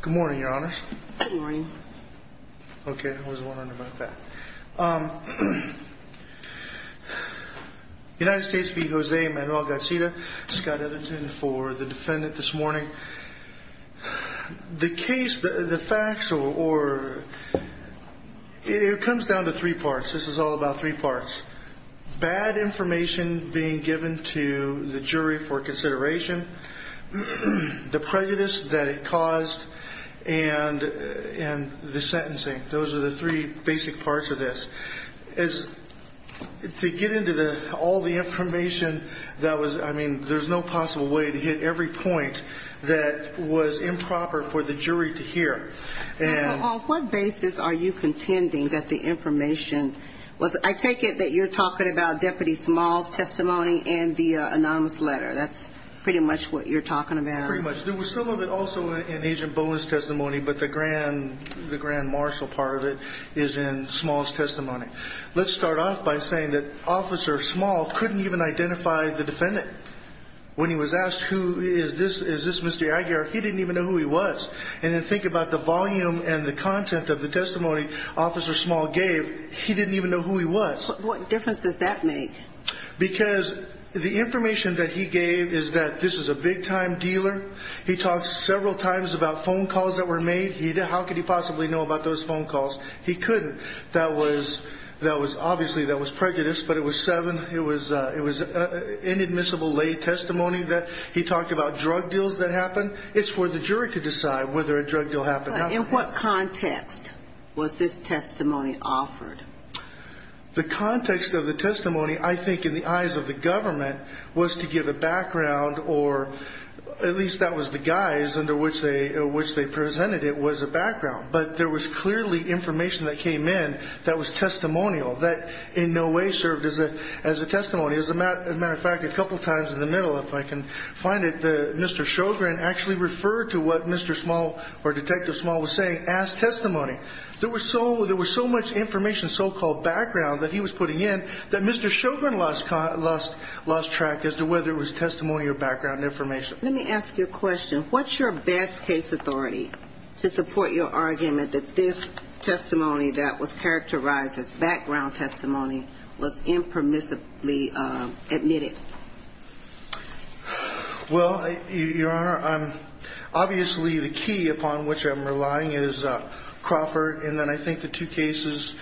Good morning, your honors. Good morning. Okay, I wasn't wondering about that. United States v. Jose Manuel Garcia, Scott Edgerton for the defendant this morning. The case, the facts, or it comes down to three parts. This is all about three parts. Bad information being given to the jury for consideration, the prejudice that it caused, and the sentencing. Those are the three basic parts of this. To get into all the information, I mean, there's no possible way to hit every point that was improper for the jury to hear. So on what basis are you contending that the information was, I take it that you're talking about Deputy Small's testimony and the anonymous letter. That's pretty much what you're talking about. Pretty much. There was some of it also in Agent Bowen's testimony, but the grand marshal part of it is in Small's testimony. Let's start off by saying that Officer Small couldn't even identify the defendant. When he was asked, who is this, is this Mr. Aguirre, he didn't even know who he was. And then think about the volume and the content of the testimony Officer Small gave. He didn't even know who he was. What difference does that make? Because the information that he gave is that this is a big time dealer. He talks several times about phone calls that were made. How could he possibly know about those phone calls? He couldn't. That was, obviously that was prejudice, but it was seven. It was inadmissible lay testimony that he talked about drug deals that happened. It's for the jury to decide whether a drug deal happened. In what context was this testimony offered? The context of the testimony, I think in the eyes of the government, was to give a background or at least that was the guise under which they, which they presented it was a background. But there was clearly information that came in that was testimonial that in no way served as a, as a testimony. As a matter of fact, a couple of times in the middle, if I can find it, the Mr. Shogren actually referred to what Mr. Small or Detective Small was saying, as testimony. There was so, there was so much information, so-called background that he was putting in that Mr. Shogren lost, lost, lost track as to whether it was testimony or background information. Let me ask you a question. What's your best case authority to support your argument that this testimony that was characterized as background testimony was impermissibly admitted? Well, Your Honor, obviously the key upon which I'm relying is Crawford. And then I think the two cases,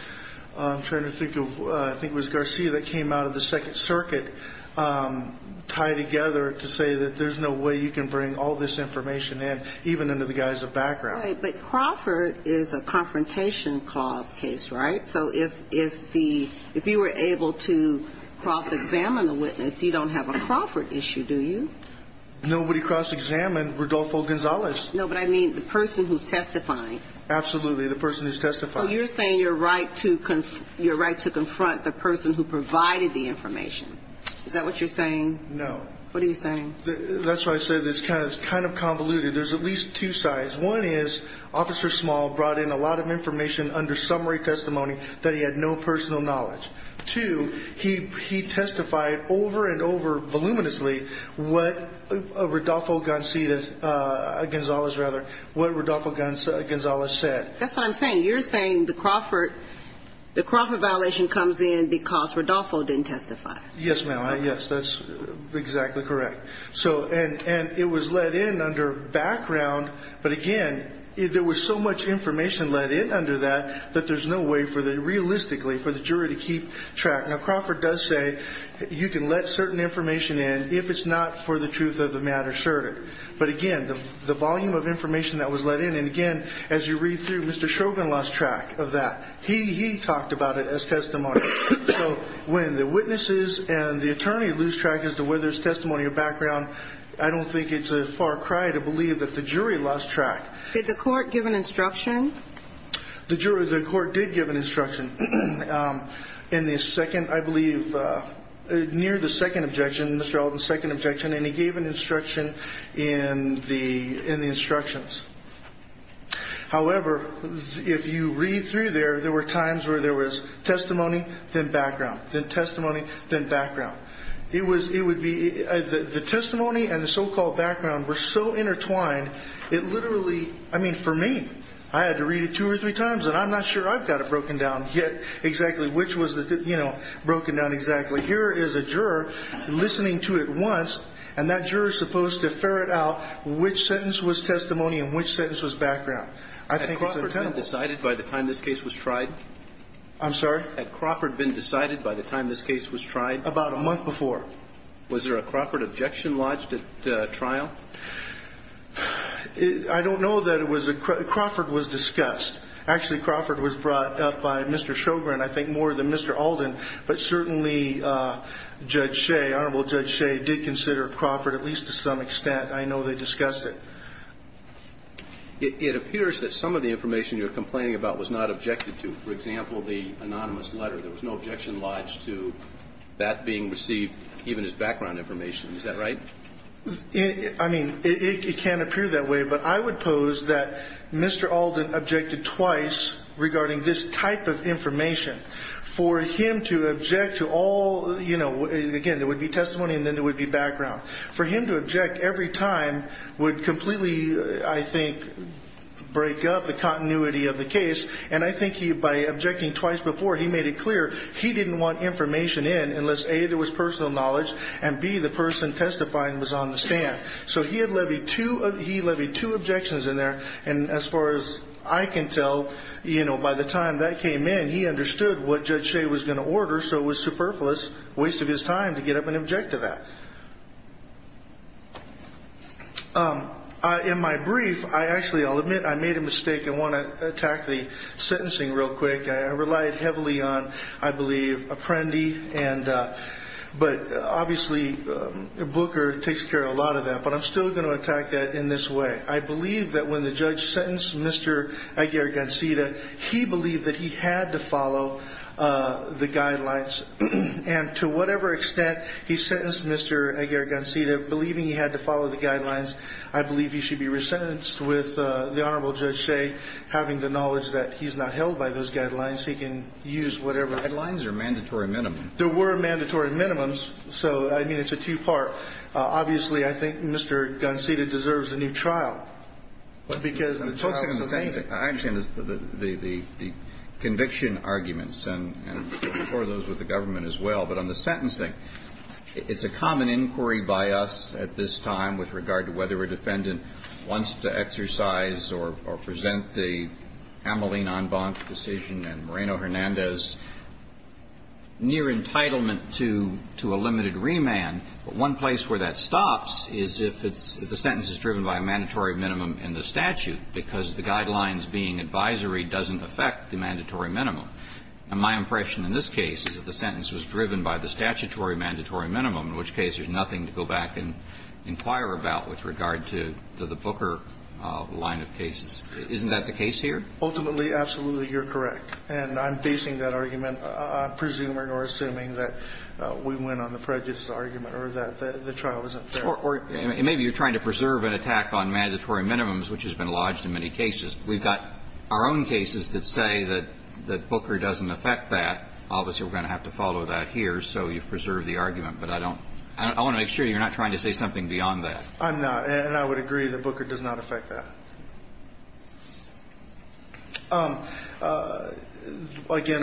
I'm trying to think of, I think it was Garcia that came out of the Second Circuit, tie together to say that there's no way you can bring all this information in, even under the guise of background. Right. But Crawford is a confrontation clause case, right? So if, if the, if you were able to cross-examine the witness, you don't have a Crawford issue, do you? Nobody cross-examined Rodolfo Gonzalez. No, but I mean the person who's testifying. Absolutely. The person who's testifying. So you're saying you're right to, you're right to confront the person who provided the information. Is that what you're saying? No. What are you saying? That's why I said it's kind of, kind of convoluted. There's at least two sides. One is Officer Small brought in a lot of information under summary testimony that he had no personal knowledge. Two, he, he testified over and over voluminously what Rodolfo Gonzalez, rather, what Rodolfo Gonzalez said. That's what I'm saying. You're saying the Crawford, the Crawford violation comes in because Rodolfo didn't testify. Yes, ma'am. Yes, that's exactly correct. So, and, and it was let in under background. But again, there was so much information let in under that, that there's no way for the, realistically, for the jury to keep track. Now Crawford does say you can let certain information in if it's not for the truth of the matter asserted. But again, the, the volume of information that was let in, and again, as you read through, Mr. Shogan lost track of that. He, he talked about it as testimony. So when the witnesses and the attorney lose track as to whether it's testimony or background, I don't think it's a far cry to believe that the jury lost track. Did the court give an instruction? The jury, the court did give an instruction in the second, I believe, near the second objection, Mr. Alden's second objection, and he gave an instruction in the, in the instructions. However, if you read through there, there were times where there was testimony, then background, then testimony, then background. It was, it would be, the testimony and the so-called background were so intertwined, it literally, I mean, for me, I had to read it two or three times, and I'm not sure I've got it broken down yet exactly which was the, you know, broken down exactly. Here is a juror listening to it once, and that juror's supposed to ferret out which sentence was testimony and which sentence was background. I think it's untenable. Had Crawford been decided by the time this case was tried? I'm sorry? Had Crawford been decided by the time this case was tried? Was there a Crawford objection lodged at trial? I don't know that it was a, Crawford was discussed. Actually, Crawford was brought up by Mr. Sjogren, I think more than Mr. Alden, but certainly, Judge Shea, Honorable Judge Shea, did consider Crawford at least to some extent. I know they discussed it. It, it appears that some of the information you're complaining about was not objected to. For example, the anonymous letter, there was no objection lodged to that being received, even as background information. Is that right? It, I mean, it, it can appear that way, but I would pose that Mr. Alden objected twice regarding this type of information. For him to object to all, you know, again, there would be testimony and then there would be background. For him to object every time would completely, I think, break up the continuity of the case. And I think he, by objecting twice before, he made it clear he didn't want information in, unless A, there was personal knowledge, and B, the person testifying was on the stand. So he had levied two, he levied two objections in there, and as far as I can tell, you know, by the time that came in, he understood what Judge Shea was going to order, so it was superfluous, waste of his time to get up and object to that. In my brief, I actually, I'll admit, I made a mistake. I want to attack the But obviously, Booker takes care of a lot of that, but I'm still going to attack that in this way. I believe that when the judge sentenced Mr. Aguirre-Gonceta, he believed that he had to follow the guidelines. And to whatever extent he sentenced Mr. Aguirre-Gonceta, believing he had to follow the guidelines, I believe he should be resentenced with the Honorable Judge Shea having the knowledge that he's not held by those guidelines. He can use whatever Guidelines are mandatory minimum. There were mandatory minimums, so I mean, it's a two-part. Obviously, I think Mr. Gonceta deserves a new trial, because the trial is the main thing. I understand the conviction arguments, and for those with the government as well, but on the sentencing, it's a common inquiry by us at this time with regard to whether a defendant wants to exercise or present the Ameline en banc decision and Moreno-Hernandez's near entitlement to a limited remand. But one place where that stops is if it's the sentence is driven by a mandatory minimum in the statute, because the guidelines being advisory doesn't affect the mandatory minimum. And my impression in this case is that the sentence was driven by the statutory mandatory minimum, in which case there's nothing to go back and inquire about with regard to the Booker line of cases. Isn't that the case here? Ultimately, absolutely, you're correct. And I'm basing that argument on presuming or assuming that we went on the prejudice argument or that the trial isn't fair. Or maybe you're trying to preserve an attack on mandatory minimums, which has been lodged in many cases. We've got our own cases that say that Booker doesn't affect that. Obviously, we're going to have to follow that here, so you've preserved the argument. But I don't – I want to make sure you're not trying to say something beyond that. I'm not. And I would agree that Booker does not affect that. Again, I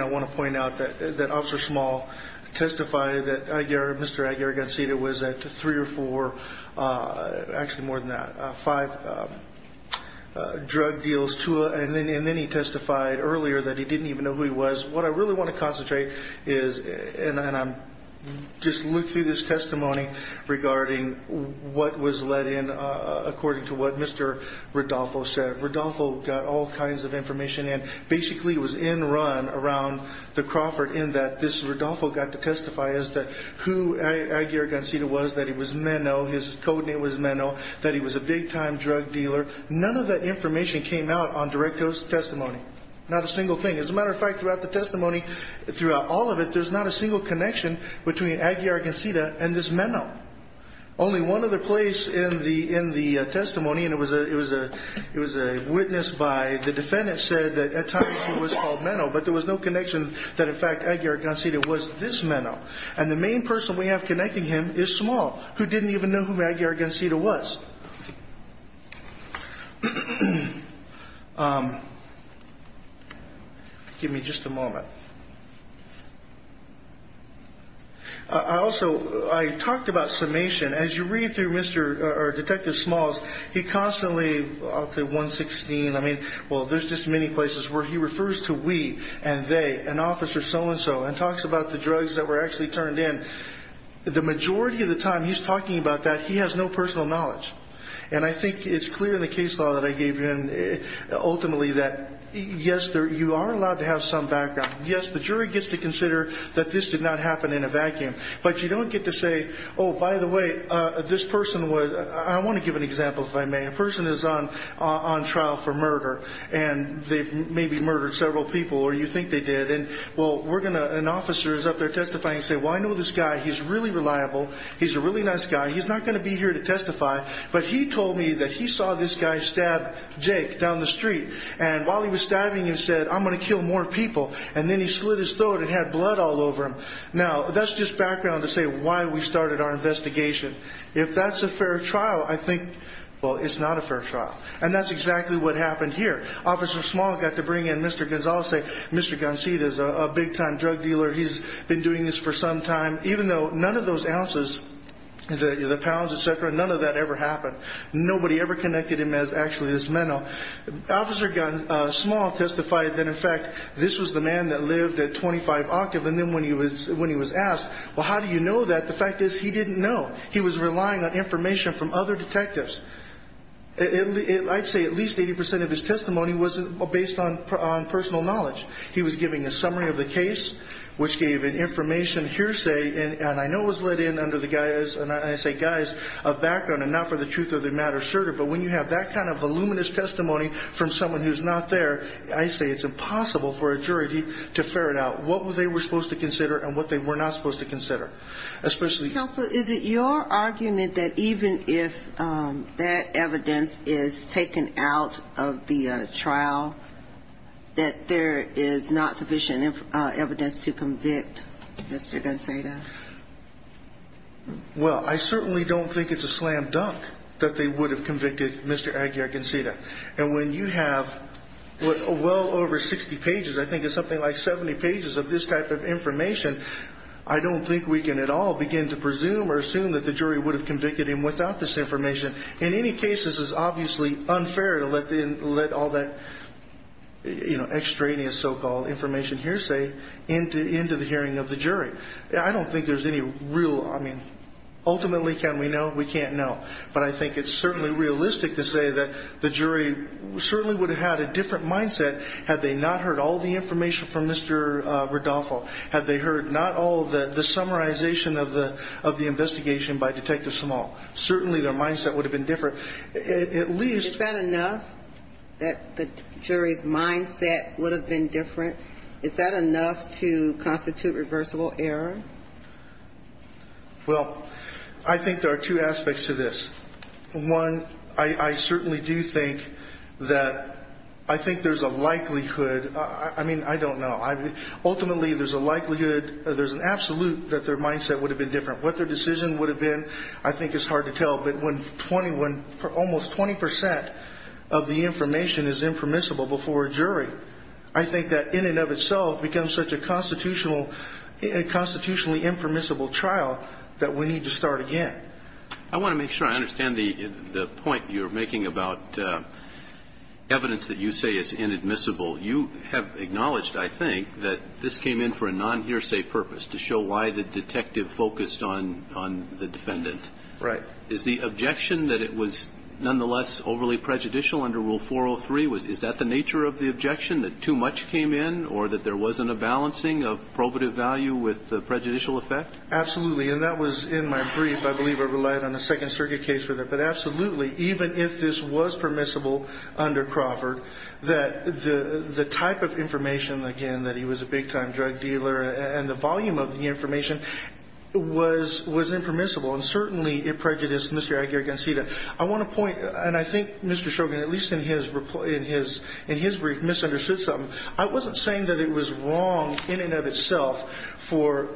want to point out that Officer Small testified that Mr. Aguirre-Gonzalez was at three or four – actually, more than that – five drug deals, and then he testified earlier that he didn't even know who he was. What I really want to concentrate is – and I'm – just look through this testimony regarding what was let in according to what Mr. Rodolfo said. Rodolfo got all kinds of information in. Basically, it was in run around the Crawford in that this – Rodolfo got to testify as to who Aguirre-Gonzalez was, that he was meno, his code name was meno, that he was a big-time drug dealer. None of that information came out on direct testimony, not a single thing. As a matter of fact, throughout the testimony, throughout all of it, there's not a Only one other place in the testimony, and it was a witness by the defendant, said that at times he was called meno, but there was no connection that, in fact, Aguirre-Gonzalez was this meno. And the main person we have connecting him is Small, who didn't even know who Aguirre-Gonzalez was. Give me just a moment. I also – I talked about summation. As you read through Mr. – or Detective Smalls, he constantly – I'll say 116. I mean, well, there's just many places where he refers to we and they and officer so-and-so and talks about the drugs that were actually turned in. The majority of the time he's talking about that, he has no personal knowledge. And I think it's clear in the case law that I gave you, ultimately, that, yes, you are allowed to have some background. Yes, the jury gets to consider that this did not happen in a vacuum. But you don't get to say, oh, by the way, this person was – I want to give an example, if I may. A person is on trial for murder, and they've maybe murdered several people, or you think they did. And, well, we're going to – an officer is up there testifying and say, well, I know this guy. He's really reliable. He's a really nice guy. He's not going to be here to testify. But he told me that he saw this guy stab Jake down the street. And while he was stabbing him, he said, I'm going to kill more people. And then he slid his sword and had blood all over him. Now, that's just background to say why we started our investigation. If that's a fair trial, I think, well, it's not a fair trial. And that's exactly what happened here. Officer Small got to bring in Mr. Gonzalez. Mr. Gonzalez is a big-time drug dealer. He's been doing this for some time. Even though none of those ounces, the pounds, et cetera, none of that ever happened. Nobody ever connected him as actually this mentor. Officer Small testified that, in fact, this was the man that lived at 25 Octave. And then when he was asked, well, how do you know that? The fact is, he didn't know. He was relying on information from other detectives. I'd say at least 80% of his testimony was based on personal knowledge. He was giving a summary of the case, which gave an information hearsay. And I know it was let in under the guise, and I say guise, of background and not for the truth of the matter, certainly. But when you have that kind of voluminous testimony from someone who's not there, I say it's impossible for a jury to ferret out what they were supposed to consider and what they were not supposed to consider, especially Counsel, is it your argument that even if that evidence is taken out of the trial, that there is not sufficient evidence to convict Mr. Gonzalez? Well, I certainly don't think it's a slam dunk that they would have convicted Mr. Aguiar-Gonzalez. And when you have well over 60 pages, I think it's something like 70 pages of this type of information, I don't think we can at all begin to presume or assume that the jury would have convicted him without this information. In any case, this is obviously unfair to let all that extraneous so-called information hearsay into the hearing of the jury. I don't think there's any real, I mean, ultimately, can we know? We can't know, but I think it's certainly realistic to say that the jury certainly would have had a different mindset had they not heard all the information from Mr. Rodolfo, had they heard not all the summarization of the investigation by Detective Small, certainly their mindset would have been different, at least. Is that enough that the jury's mindset would have been different? Is that enough to constitute reversible error? Well, I think there are two aspects to this. One, I certainly do think that, I think there's a likelihood, I mean, I don't know. Ultimately, there's a likelihood, there's an absolute that their mindset would have been different. What their decision would have been, I think it's hard to tell. But when almost 20% of the information is impermissible before a jury, I think that in and of itself becomes such a constitutionally impermissible trial that we need to start again. I want to make sure I understand the point you're making about evidence that you say is inadmissible. You have acknowledged, I think, that this came in for a non-hearsay purpose to show why the detective focused on the defendant. Right. Is the objection that it was nonetheless overly prejudicial under Rule 403? Is that the nature of the objection, that too much came in or that there wasn't a balancing of probative value with the prejudicial effect? Absolutely, and that was in my brief. I believe I relied on a second circuit case for that. But absolutely, even if this was permissible under Crawford, that the type of information, again, that he was a big time drug dealer and the volume of the information was impermissible. And certainly, it prejudiced Mr. Aguirre-Gonzalez. I want to point, and I think Mr. Shogan, at least in his brief, misunderstood something. I wasn't saying that it was wrong in and of itself for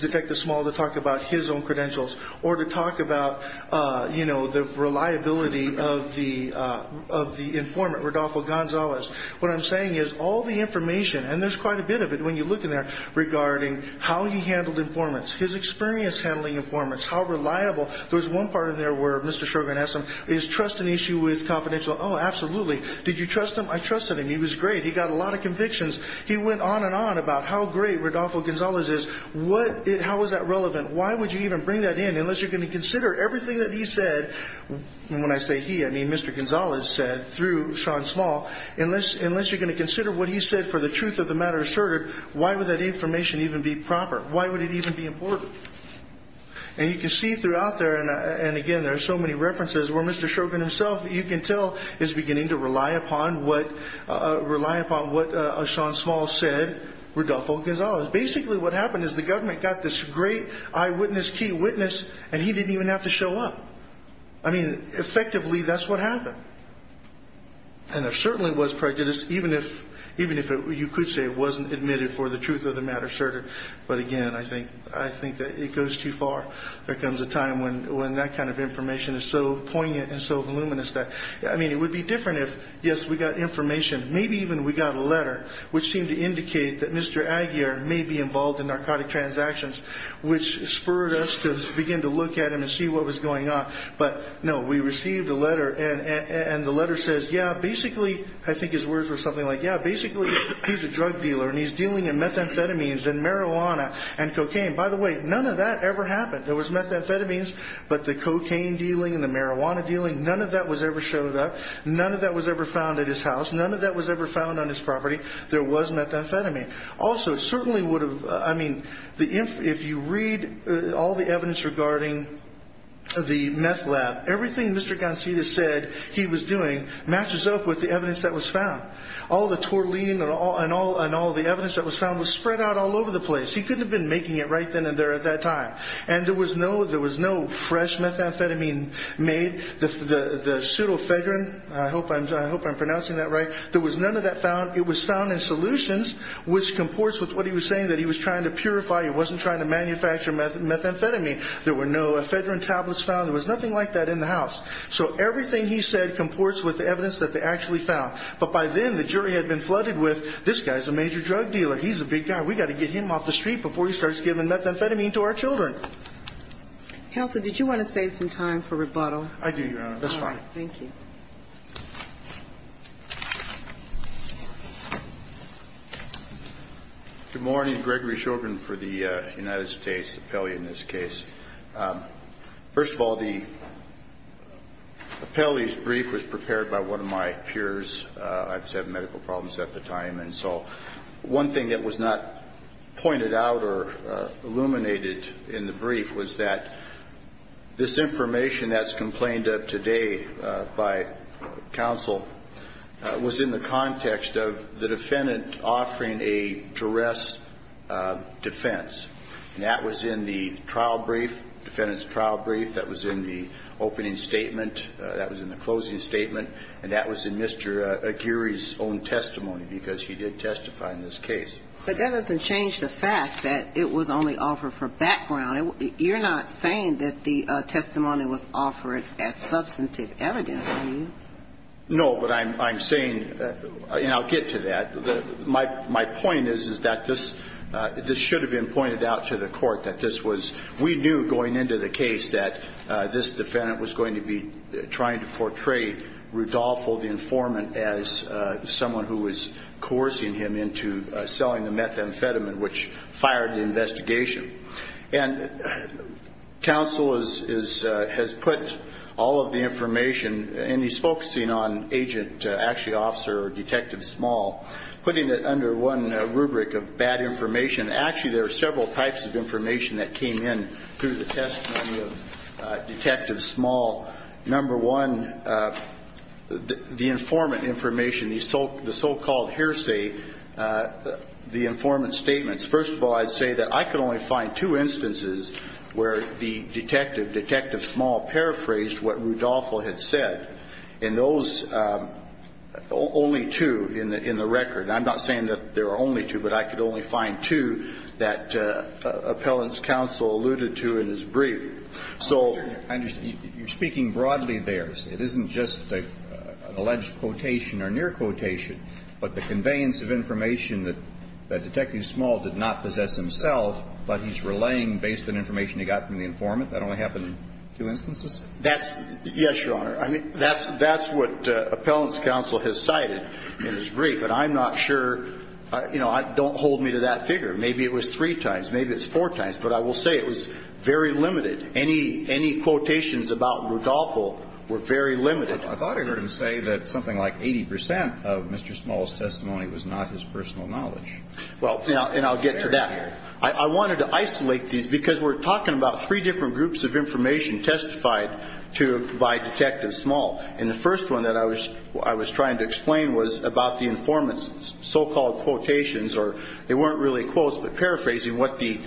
Detective Small to talk about his own credentials or to talk about the reliability of the informant, Rodolfo Gonzalez. What I'm saying is, all the information, and there's quite a bit of it when you look in there, regarding how he handled informants, his experience handling informants, how reliable, there's one part in there where Mr. Shogan asked him, is trust an issue with confidential? Absolutely. Did you trust him? I trusted him. He was great. He got a lot of convictions. He went on and on about how great Rodolfo Gonzalez is. How is that relevant? Why would you even bring that in, unless you're going to consider everything that he said? And when I say he, I mean Mr. Gonzalez said, through Sean Small. Unless you're going to consider what he said for the truth of the matter asserted, why would that information even be proper? Why would it even be important? And you can see throughout there, and again, there's so many references, where Mr. Shogan himself, you can tell, is beginning to rely upon what Sean Small said, Rodolfo Gonzalez. Basically, what happened is the government got this great eyewitness, key witness, and he didn't even have to show up. I mean, effectively, that's what happened. And there certainly was prejudice, even if you could say it wasn't admitted for the truth of the matter asserted. But again, I think that it goes too far. There comes a time when that kind of information is so poignant and so voluminous that. I mean, it would be different if, yes, we got information, maybe even we got a letter, which seemed to indicate that Mr. Aguiar may be involved in narcotic transactions, which spurred us to begin to look at him and see what was going on. But no, we received a letter, and the letter says, yeah, basically, I think his words were something like, yeah, basically, he's a drug dealer, and he's dealing in methamphetamines and marijuana and cocaine. By the way, none of that ever happened. There was methamphetamines, but the cocaine dealing and the marijuana dealing, none of that was ever showed up. None of that was ever found at his house. None of that was ever found on his property. There was methamphetamine. Also, it certainly would have, I mean, if you read all the evidence regarding the meth lab, everything Mr. Gancita said he was doing matches up with the evidence that was found. All the tortellini and all the evidence that was found was spread out all over the place. He couldn't have been making it right then and there at that time. And there was no fresh methamphetamine made. The pseudoephedrine, I hope I'm pronouncing that right, there was none of that found. It was found in solutions, which comports with what he was saying, that he was trying to purify. He wasn't trying to manufacture methamphetamine. There were no ephedrine tablets found. There was nothing like that in the house. So everything he said comports with the evidence that they actually found. But by then, the jury had been flooded with, this guy's a major drug dealer. He's a big guy. We've got to get him off the street before he starts giving methamphetamine to our children. Counsel, did you want to save some time for rebuttal? I do, Your Honor. That's fine. Thank you. Good morning. Gregory Shogren for the United States Appellee in this case. First of all, the appellee's brief was prepared by one of my peers. I was having medical problems at the time. And so one thing that was not pointed out or illuminated in the brief was that this information that's complained of today by counsel was in the context of the defendant offering a duress defense. And that was in the trial brief, defendant's trial brief. That was in the opening statement. That was in the closing statement. And that was in Mr. Aguirre's own testimony, because he did testify in this case. But that doesn't change the fact that it was only offered for background. You're not saying that the testimony was offered as substantive evidence, are you? No, but I'm saying, and I'll get to that. My point is that this should have been pointed out to the court that this was, we knew going into the case that this defendant was going to be trying to portray Rudolpho, the informant, as someone who was coercing him into selling the methamphetamine, which fired the investigation. And counsel has put all of the information, and putting it under one rubric of bad information. Actually, there are several types of information that came in through the testimony of Detective Small. Number one, the informant information, the so-called hearsay, the informant statements, first of all, I'd say that I could only find two instances where the detective, Detective Small, paraphrased what Rudolpho had said. And those, only two in the record, and I'm not saying that there are only two, but I could only find two that appellant's counsel alluded to in his brief. So- I understand, you're speaking broadly there. It isn't just an alleged quotation or near quotation, but the conveyance of information that Detective Small did not possess himself, but he's relaying based on information he got from the informant. That only happened in two instances? That's, yes, Your Honor. That's what appellant's counsel has cited in his brief, but I'm not sure. You know, don't hold me to that figure. Maybe it was three times, maybe it's four times, but I will say it was very limited. Any quotations about Rudolpho were very limited. I thought I heard him say that something like 80% of Mr. Small's testimony was not his personal knowledge. Well, and I'll get to that. I wanted to isolate these because we're talking about three different groups of And the first one that I was trying to explain was about the informant's so-called quotations, or they weren't really quotes, but paraphrasing what the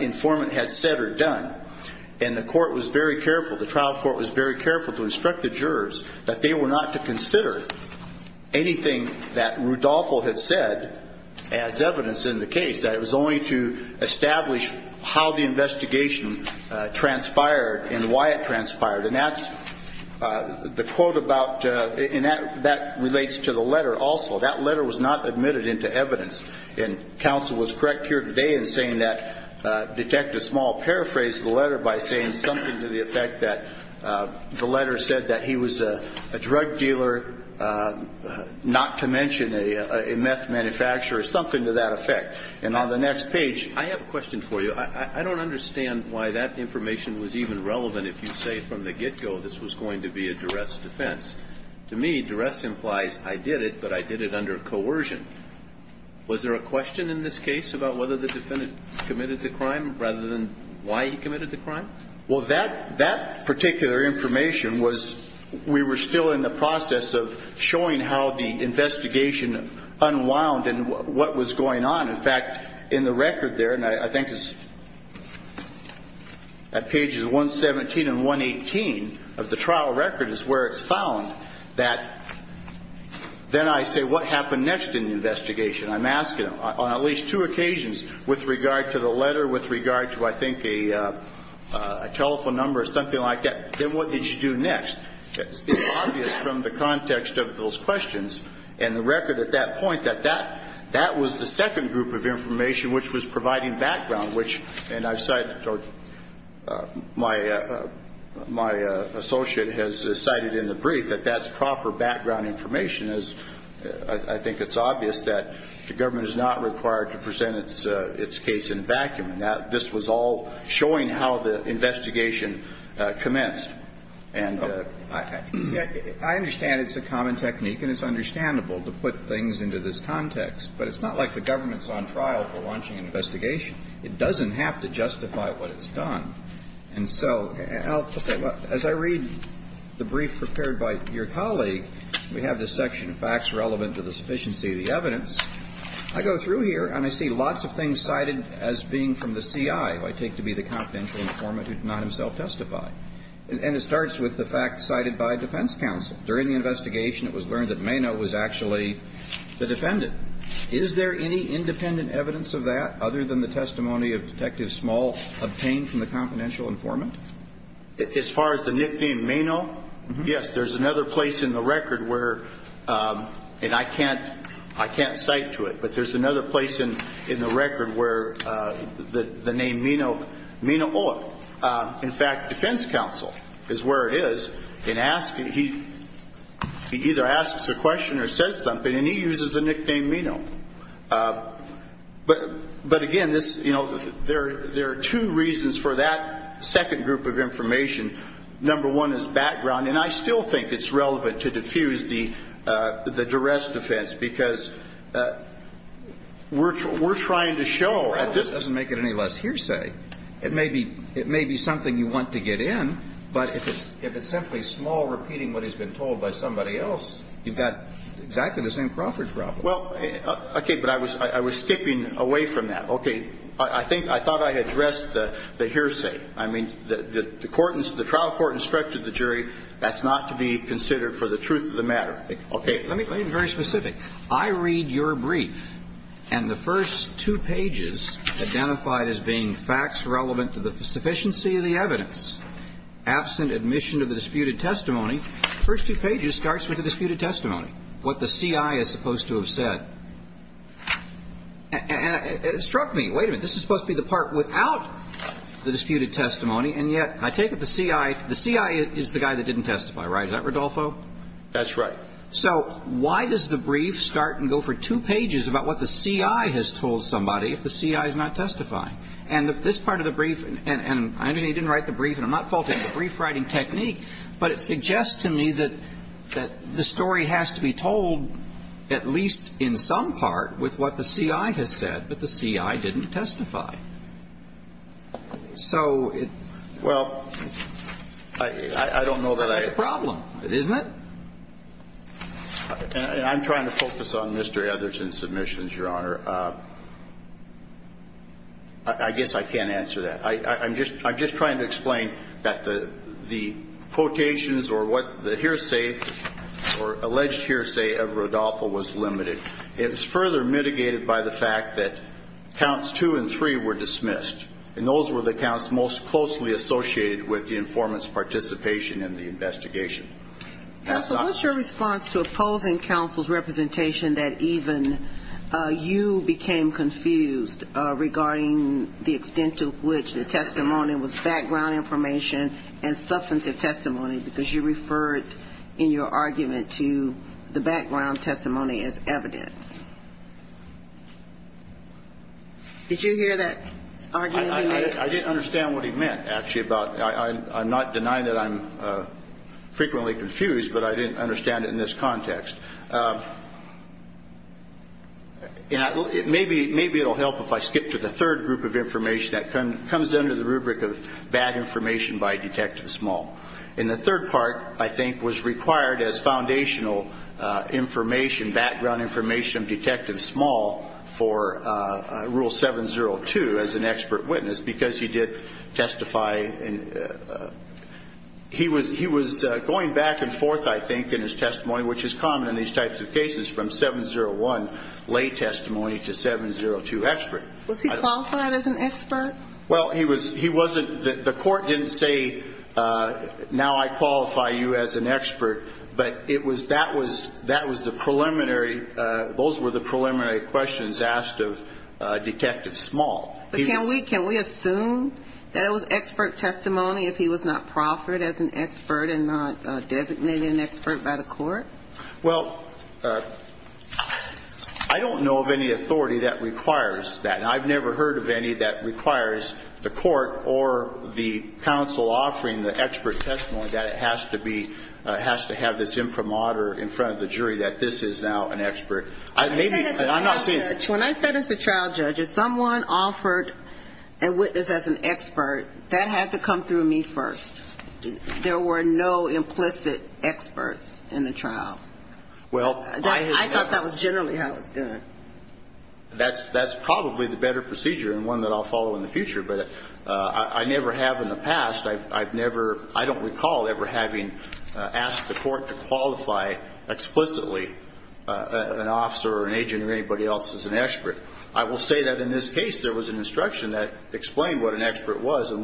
informant had said or done. And the court was very careful, the trial court was very careful to instruct the jurors that they were not to consider anything that Rudolpho had said as evidence in the case. That it was only to establish how the investigation transpired and why it transpired. And that's the quote about, and that relates to the letter also. That letter was not admitted into evidence. And counsel was correct here today in saying that, detect a small paraphrase of the letter by saying something to the effect that the letter said that he was a drug dealer, not to mention a meth manufacturer, something to that effect. And on the next page. I have a question for you. I don't understand why that information was even relevant if you say from the get-go this was going to be a duress defense. To me, duress implies I did it, but I did it under coercion. Was there a question in this case about whether the defendant committed the crime rather than why he committed the crime? Well, that particular information was, we were still in the process of showing how the investigation unwound and what was going on. In fact, in the record there, and I think it's at pages 117 and 118 of the trial record is where it's found that, then I say what happened next in the investigation. I'm asking on at least two occasions with regard to the letter, with regard to, I think, a telephone number or something like that, then what did you do next? It's obvious from the context of those questions and the record at that point that that was the second group of information which was providing background, which, and I've cited, or my associate has cited in the brief, that that's proper background information. As I think it's obvious that the government is not required to present its case in vacuum. This was all showing how the investigation commenced. And I understand it's a common technique, and it's understandable to put things into this context, but it's not like the government's on trial for launching an investigation. It doesn't have to justify what it's done. And so, as I read the brief prepared by your colleague, we have this section of facts relevant to the sufficiency of the evidence. I go through here, and I see lots of things cited as being from the CI, who I take to be the confidential informant who did not himself testify. And it starts with the facts cited by defense counsel. During the investigation, it was learned that Meno was actually the defendant. Is there any independent evidence of that other than the testimony of Detective Small obtained from the confidential informant? As far as the nickname Meno, yes, there's another place in the record where, and I can't cite to it, but there's another place in the record where the name Meno, Meno Oak, in fact, defense counsel is where it is, and he either asks a question or says something, and he uses the nickname Meno. But again, this, you know, there are two reasons for that second group of information. Number one is background, and I still think it's relevant to diffuse the duress defense, because we're trying to show at this point. It doesn't make it any less hearsay. It may be something you want to get in, but if it's simply Small repeating what has been told by somebody else, you've got exactly the same Crawford problem. Well, okay, but I was skipping away from that. Okay. I think I thought I addressed the hearsay. I mean, the trial court instructed the jury that's not to be considered for the truth of the matter. Okay. Let me be very specific. I read your brief, and the first two pages, identified as being facts relevant to the sufficiency of the evidence, absent admission to the disputed testimony, the first two pages starts with the disputed testimony, what the CI is supposed to have said. And it struck me, wait a minute, this is supposed to be the part without the disputed testimony, and yet I take it the CI, the CI is the guy that didn't testify, right? Is that Rodolfo? That's right. So why does the brief start and go for two pages about what the CI has told somebody if the CI is not testifying? And this part of the brief, and I know you didn't write the brief, and I'm not faulting you, the brief writing technique, but it suggests to me that the story has to be told, at least in some part, with what the CI has said, but the CI didn't testify. So it's a problem, isn't it? And I'm trying to focus on Mr. Etherton's submissions, Your Honor. I guess I can't answer that. I'm just trying to explain that the quotations or what the hearsay, or alleged hearsay of Rodolfo was limited. It was further mitigated by the fact that counts two and three were dismissed, and those were the counts most closely associated with the informant's participation in the investigation. Counsel, what's your response to opposing counsel's representation that even you became confused regarding the extent to which the testimony was background information and substantive testimony, because you referred in your argument to the background testimony as evidence? Did you hear that argument? I didn't understand what he meant, actually. I'm not denying that I'm frequently confused, but I didn't understand it in this context. Maybe it will help if I skip to the third group of information that comes under the rubric of bad information by Detective Small. And the third part, I think, was required as foundational information, background information of Detective Small for Rule 702 as an expert witness because he did testify. He was going back and forth, I think, in his testimony, which is common in these types of cases from 701 lay testimony to 702 expert. Was he qualified as an expert? Well, he wasn't. The Court didn't say, now I qualify you as an expert. But it was that was the preliminary, those were the preliminary questions asked of Detective Small. But can we assume that it was expert testimony if he was not proffered as an expert and not designated an expert by the Court? Well, I don't know of any authority that requires that. And I've never heard of any that requires the Court or the counsel offering the expert testimony that it has to be, has to have this imprimatur in front of the jury that this is now an expert. When I said as a trial judge, if someone offered a witness as an expert, that had to come through me first. There were no implicit experts in the trial. I thought that was generally how it was done. That's probably the better procedure and one that I'll follow in the future. But I never have in the past, I've never, I don't recall ever having asked the Court to qualify explicitly an officer or an agent or anybody else as an expert. I will say that in this case there was an instruction that explained what an expert was and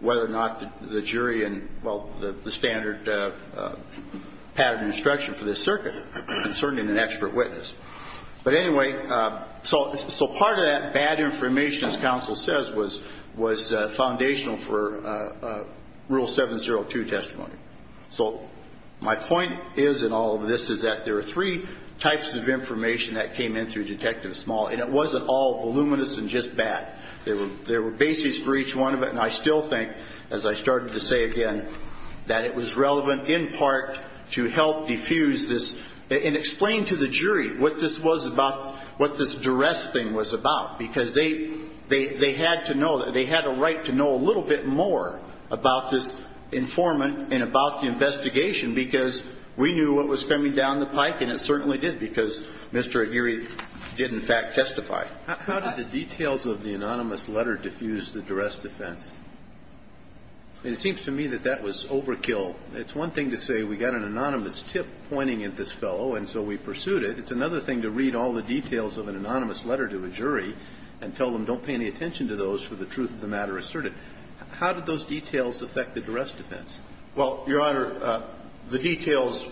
whether or not the jury and, well, the standard pattern instruction for this circuit concerning an expert witness. But anyway, so part of that bad information, as counsel says, was foundational for Rule 702 testimony. So my point is in all of this is that there are three types of information that came in through Detective Small. And it wasn't all voluminous and just bad. There were bases for each one of it. And I still think, as I started to say again, that it was relevant in part to help diffuse this and explain to the jury what this was about, what this duress thing was about. Because they had to know, they had a right to know a little bit more about this informant and about the investigation because we knew what was coming down the pike, and it certainly did because Mr. Aguirre did, in fact, testify. How did the details of the anonymous letter diffuse the duress defense? It seems to me that that was overkill. It's one thing to say we got an anonymous tip pointing at this fellow and so we pursued it. It's another thing to read all the details of an anonymous letter to a jury and tell them don't pay any attention to those for the truth of the matter asserted. How did those details affect the duress defense? Well, Your Honor, the details,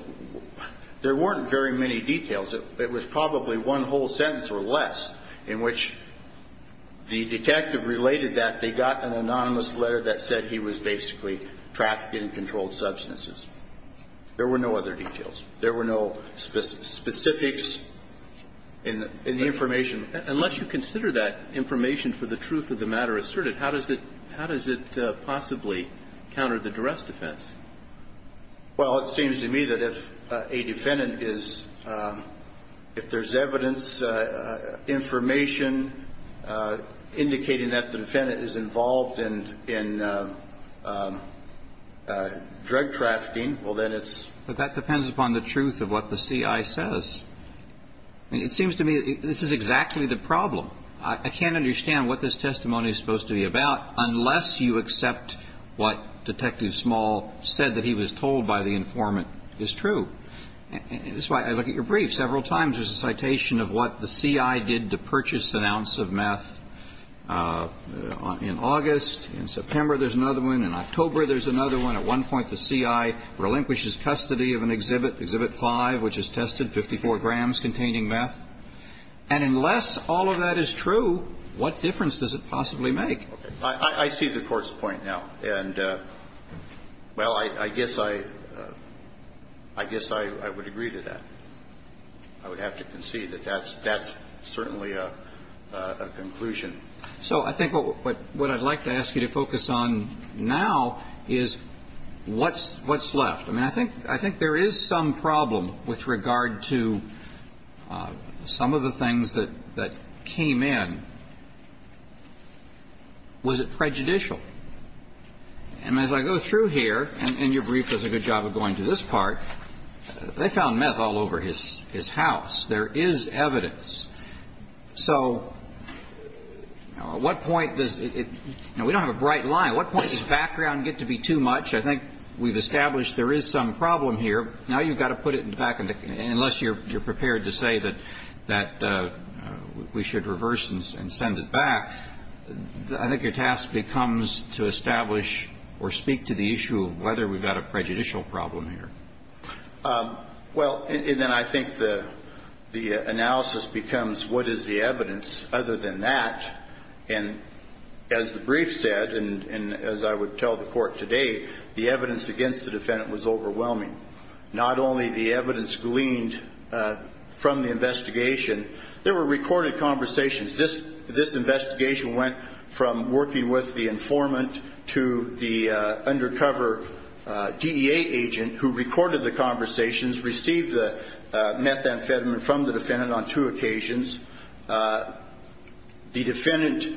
there weren't very many details. It was probably one whole sentence or less in which the detective related that they got an anonymous letter that said he was basically trafficked in controlled substances. There were no other details. There were no specifics in the information. Unless you consider that information for the truth of the matter asserted, how does it possibly counter the duress defense? Well, it seems to me that if a defendant is, if there's evidence, information indicating that the defendant is involved in drug trafficking, well, then it's ---- But that depends upon the truth of what the C.I. says. I mean, it seems to me this is exactly the problem. I can't understand what this testimony is supposed to be about unless you accept what Detective Small said that he was told by the informant is true. That's why I look at your brief. Several times there's a citation of what the C.I. did to purchase an ounce of meth in August. In September there's another one. In October there's another one. At one point the C.I. relinquishes custody of an exhibit, exhibit 5, which is tested, 54 grams containing meth. And unless all of that is true, what difference does it possibly make? I see the Court's point now. And, well, I guess I would agree to that. I would have to concede that that's certainly a conclusion. So I think what I'd like to ask you to focus on now is what's left. I mean, I think there is some problem with regard to some of the things that came in. Was it prejudicial? And as I go through here, and your brief does a good job of going to this part, they found meth all over his house. There is evidence. So at what point does it – now, we don't have a bright line. At what point does background get to be too much? I think we've established there is some problem here. Now you've got to put it back in the – unless you're prepared to say that we should reverse and send it back, I think your task becomes to establish or speak to the issue of whether we've got a prejudicial problem here. Well, and then I think the analysis becomes what is the evidence other than that. And as the brief said, and as I would tell the Court today, the evidence against the defendant was overwhelming. Not only the evidence gleaned from the investigation. There were recorded conversations. This investigation went from working with the informant to the undercover DEA agent who recorded the conversations, received the methamphetamine from the defendant on two occasions. The defendant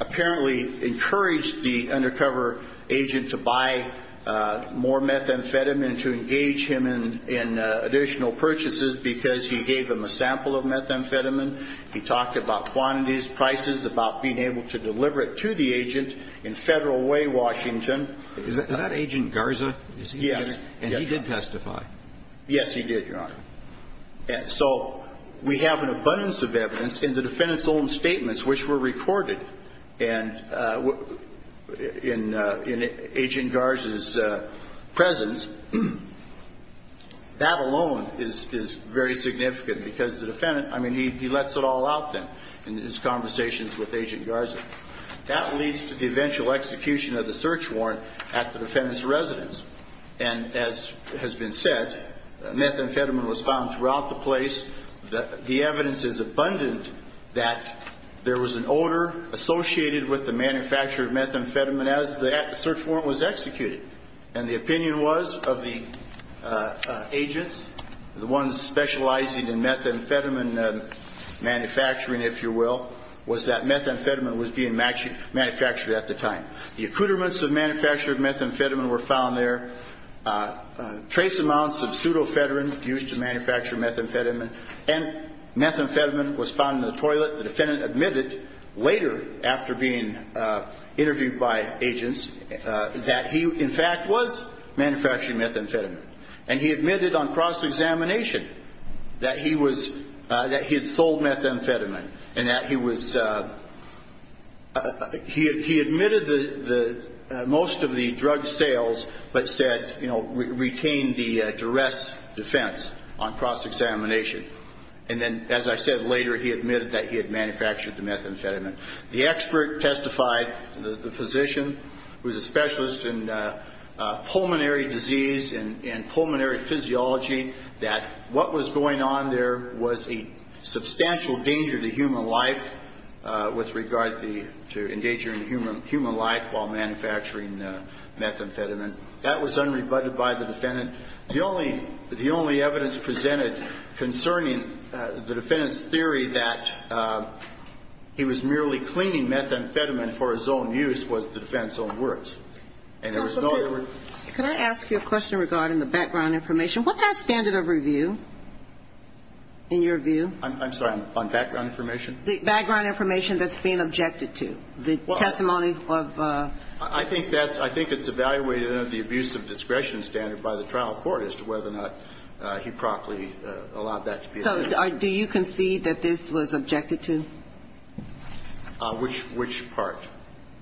apparently encouraged the undercover agent to buy more methamphetamine to engage him in additional purchases because he gave him a sample of methamphetamine. He talked about quantities, prices, about being able to deliver it to the agent in federal way, Washington. Is that Agent Garza? Yes. And he did testify? Yes, he did, Your Honor. So we have an abundance of evidence in the defendant's own statements which were recorded. And in Agent Garza's presence, that alone is very significant because the defendant, I mean, he lets it all out then in his conversations with Agent Garza. That leads to the eventual execution of the search warrant at the defendant's residence. And as has been said, methamphetamine was found throughout the place. The evidence is abundant that there was an odor associated with the manufacture of methamphetamine as the search warrant was executed. And the opinion was of the agents, the ones specializing in methamphetamine manufacturing, if you will, was that methamphetamine was being manufactured at the time. The accoutrements of manufacture of methamphetamine were found there. Trace amounts of pseudofedrin used to manufacture methamphetamine. And methamphetamine was found in the toilet. The defendant admitted later after being interviewed by agents that he, in fact, was manufacturing methamphetamine. And he admitted on cross-examination that he was, that he had sold methamphetamine and that he was, he admitted most of the drug sales but said, you know, retained the duress defense on cross-examination. And then, as I said later, he admitted that he had manufactured the methamphetamine. The expert testified, the physician, who was a specialist in pulmonary disease and pulmonary physiology, that what was going on there was a substantial danger to human life with regard to endangering human life while manufacturing methamphetamine. That was unrebutted by the defendant. And the only, the only evidence presented concerning the defendant's theory that he was merely cleaning methamphetamine for his own use was the defendant's own words. And there was no other word. Could I ask you a question regarding the background information? What's our standard of review in your view? I'm sorry. On background information? The background information that's being objected to. Well. The testimony of. I think that's, I think it's evaluated under the abuse of discretion standard by the trial court as to whether or not he properly allowed that to be. So do you concede that this was objected to? Which, which part?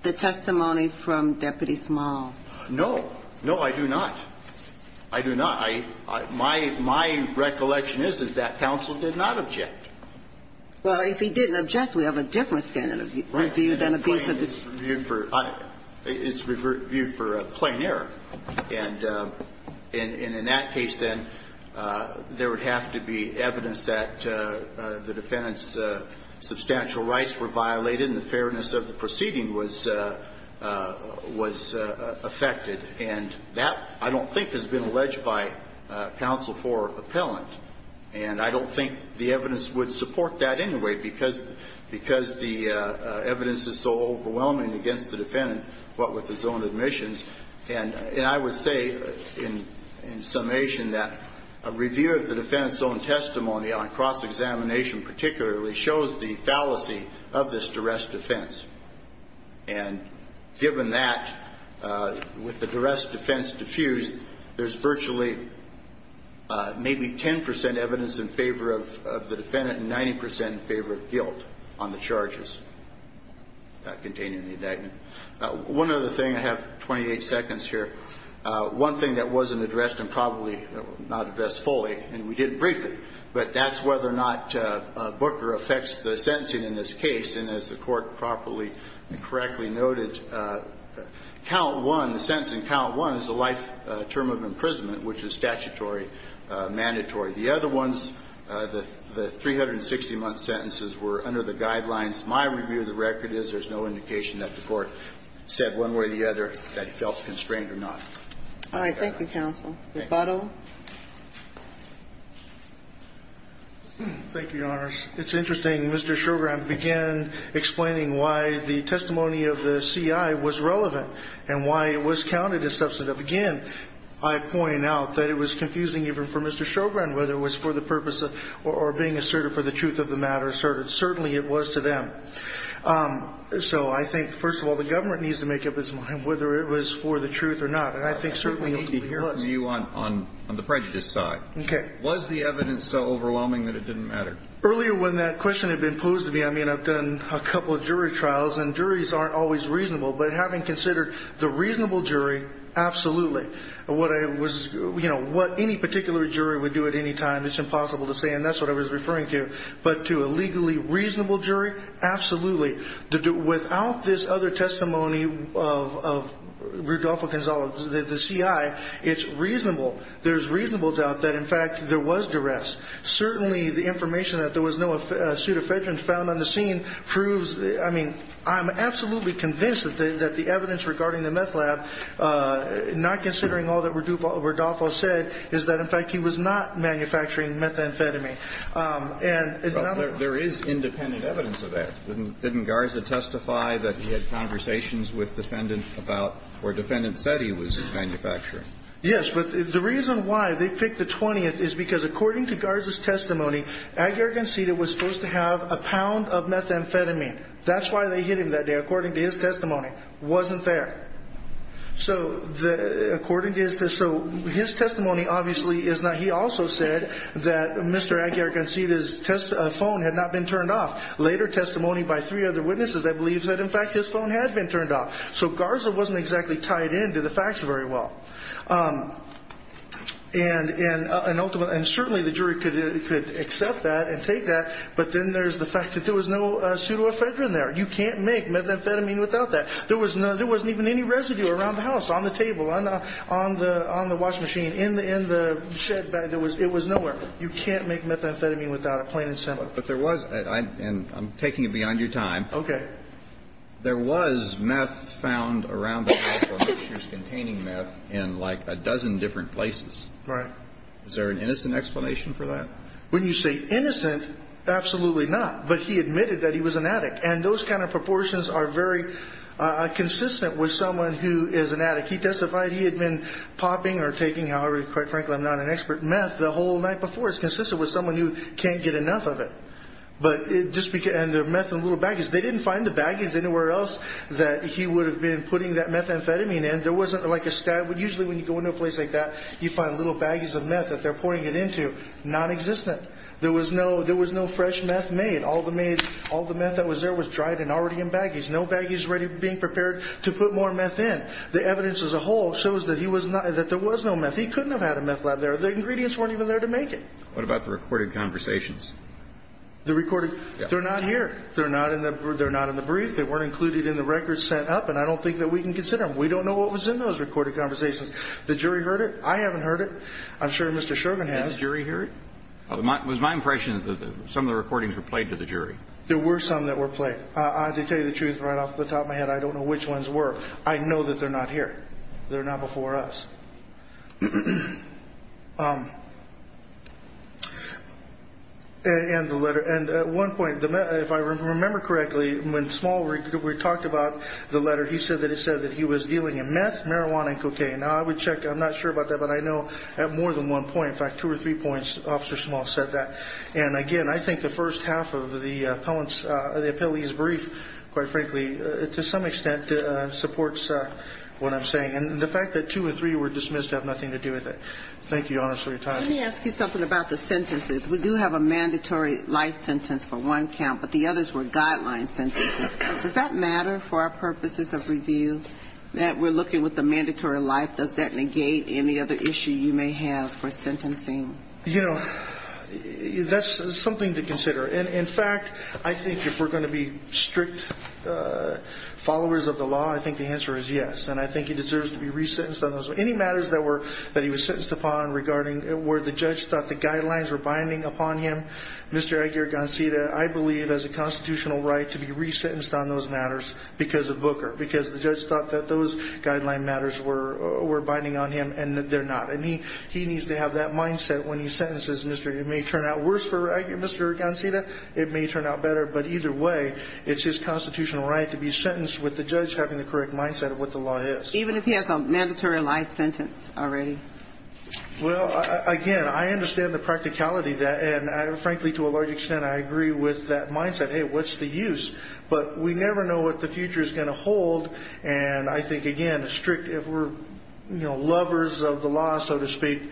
The testimony from Deputy Small. No. No, I do not. I do not. My, my recollection is, is that counsel did not object. Well, if he didn't object, we have a different standard of review than abuse of discretion. It's reviewed for, it's reviewed for plain error. And, and in that case, then, there would have to be evidence that the defendant's substantial rights were violated and the fairness of the proceeding was, was affected. And that, I don't think, has been alleged by counsel for appellant. And I don't think the evidence would support that anyway because, because the evidence is so overwhelming against the defendant, what with his own admissions. And, and I would say in, in summation that a review of the defendant's own testimony on cross-examination particularly shows the fallacy of this duress defense. And given that, with the duress defense diffused, there's virtually maybe 10 percent evidence in favor of the defendant and 90 percent in favor of guilt on the charges containing the indictment. One other thing. I have 28 seconds here. One thing that wasn't addressed and probably not addressed fully, and we did brief it, but that's whether or not Booker affects the sentencing in this case. And as the Court properly and correctly noted, count one, the sentence in count one is a life term of imprisonment, which is statutory, mandatory. The other ones, the 360-month sentences were under the guidelines. My review of the record is there's no indication that the Court said one way or the other that he felt constrained or not. All right. Thank you, counsel. Thank you. Butto. Thank you, Your Honors. It's interesting. Mr. Shogran began explaining why the testimony of the CI was relevant and why it was counted as substantive. Again, I point out that it was confusing even for Mr. Shogran, whether it was for the purpose of or being assertive for the truth of the matter, certainly it was to them. So I think, first of all, the government needs to make up its mind whether it was for the truth or not. And I think certainly it was. I think we need to hear from you on the prejudice side. Okay. Was the evidence so overwhelming that it didn't matter? Earlier when that question had been posed to me, I mean, I've done a couple of jury trials, and juries aren't always reasonable. But having considered the reasonable jury, absolutely. What I was, you know, what any particular jury would do at any time, it's impossible to say, and that's what I was referring to. But to a legally reasonable jury, absolutely. Without this other testimony of Rudolfo Gonzalez, the CI, it's reasonable. There's reasonable doubt that, in fact, there was duress. Certainly the information that there was no suit of federal found on the scene proves, I mean, I'm absolutely convinced that the evidence regarding the meth lab, not considering all that Rudolfo said, is that, in fact, he was not manufacturing methamphetamine. Well, there is independent evidence of that. Didn't Garza testify that he had conversations with defendants about where defendants said he was manufacturing? Yes. But the reason why they picked the 20th is because, according to Garza's testimony, Aguirre-Goncila was supposed to have a pound of methamphetamine. That's why they hit him that day, according to his testimony. Wasn't there. So according to his testimony, obviously, he also said that Mr. Aguirre-Goncila's phone had not been turned off. Later testimony by three other witnesses that believes that, in fact, his phone had been turned off. So Garza wasn't exactly tied in to the facts very well. And certainly the jury could accept that and take that. But then there's the fact that there was no pseudoephedrine there. You can't make methamphetamine without that. There wasn't even any residue around the house, on the table, on the washing machine, in the shed bag. It was nowhere. You can't make methamphetamine without it, plain and simple. But there was, and I'm taking it beyond your time. Okay. There was meth found around the house or mixtures containing meth in, like, a dozen different places. Right. Is there an innocent explanation for that? When you say innocent, absolutely not. But he admitted that he was an addict. And those kind of proportions are very consistent with someone who is an addict. He testified he had been popping or taking, however, quite frankly, I'm not an expert, meth the whole night before. It's consistent with someone who can't get enough of it. And the meth in little baggies. They didn't find the baggies anywhere else that he would have been putting that methamphetamine in. There wasn't, like, a stash. Usually when you go into a place like that, you find little baggies of meth that they're pouring it into, nonexistent. There was no fresh meth made. All the meth that was there was dried and already in baggies. No baggies being prepared to put more meth in. The evidence as a whole shows that there was no meth. He couldn't have had a meth lab there. The ingredients weren't even there to make it. What about the recorded conversations? The recorded? They're not here. They're not in the brief. They weren't included in the records sent up. And I don't think that we can consider them. We don't know what was in those recorded conversations. The jury heard it. I haven't heard it. I'm sure Mr. Sherman has. Did the jury hear it? It was my impression that some of the recordings were played to the jury. There were some that were played. I have to tell you the truth right off the top of my head. I don't know which ones were. I know that they're not here. They're not before us. And the letter. And at one point, if I remember correctly, when Small talked about the letter, he said that it said that he was dealing in meth, marijuana, and cocaine. Now, I would check. I'm not sure about that. But I know at more than one point, in fact, two or three points, Officer Small said that. And, again, I think the first half of the appellee's brief, quite frankly, to some extent supports what I'm saying. And the fact that two or three were dismissed have nothing to do with it. Thank you, Your Honor, for your time. Let me ask you something about the sentences. We do have a mandatory life sentence for one count, but the others were guideline sentences. Does that matter for our purposes of review that we're looking with the mandatory life? Does that negate any other issue you may have for sentencing? You know, that's something to consider. And, in fact, I think if we're going to be strict followers of the law, I think the answer is yes. And I think he deserves to be resentenced on those. Any matters that he was sentenced upon regarding where the judge thought the guidelines were binding upon him, Mr. Aguirre-Gonzalez, I believe has a constitutional right to be resentenced on those matters because of Booker, because the judge thought that those guideline matters were binding on him and they're not. And he needs to have that mindset when he sentences. It may turn out worse for Mr. Aguirre-Gonzalez. It may turn out better. But either way, it's his constitutional right to be sentenced with the judge having the correct mindset of what the law is. Even if he has a mandatory life sentence already? Well, again, I understand the practicality of that. And, frankly, to a large extent, I agree with that mindset. Hey, what's the use? But we never know what the future is going to hold. And I think, again, if we're lovers of the law, so to speak,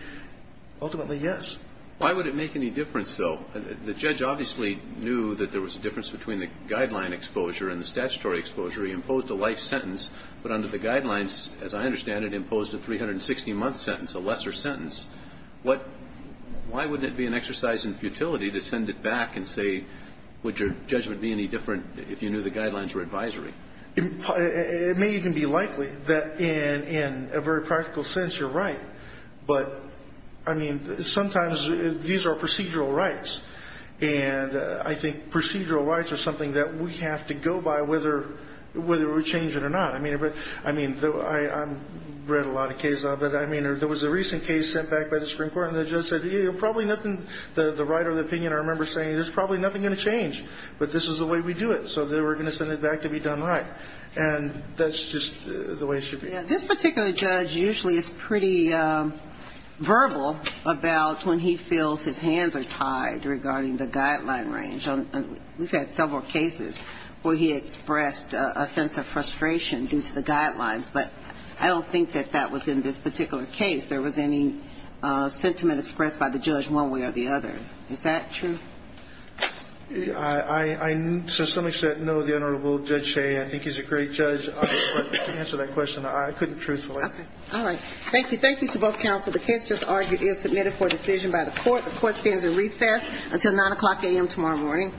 ultimately yes. Why would it make any difference, though? The judge obviously knew that there was a difference between the guideline exposure and the statutory exposure. He imposed a life sentence, but under the guidelines, as I understand it, imposed a 360-month sentence, a lesser sentence. Why wouldn't it be an exercise in futility to send it back and say would your judgment be any different if you knew the guidelines were advisory? It may even be likely that in a very practical sense you're right. But, I mean, sometimes these are procedural rights. And I think procedural rights are something that we have to go by whether we change it or not. I mean, I've read a lot of cases of it. I mean, there was a recent case sent back by the Supreme Court, and the judge said, you know, probably nothing, the writer of the opinion, I remember saying, there's probably nothing going to change, but this is the way we do it. So they were going to send it back to be done right. And that's just the way it should be. This particular judge usually is pretty verbal about when he feels his hands are tied regarding the guideline range. We've had several cases where he expressed a sense of frustration due to the guidelines. But I don't think that that was in this particular case. There was any sentiment expressed by the judge one way or the other. Is that true? I know the Honorable Judge Shea. I think he's a great judge. To answer that question, I couldn't truthfully. All right. Thank you. Thank you to both counsel. The case just argued is submitted for decision by the court. The court stands at recess until 9 o'clock a.m. tomorrow morning.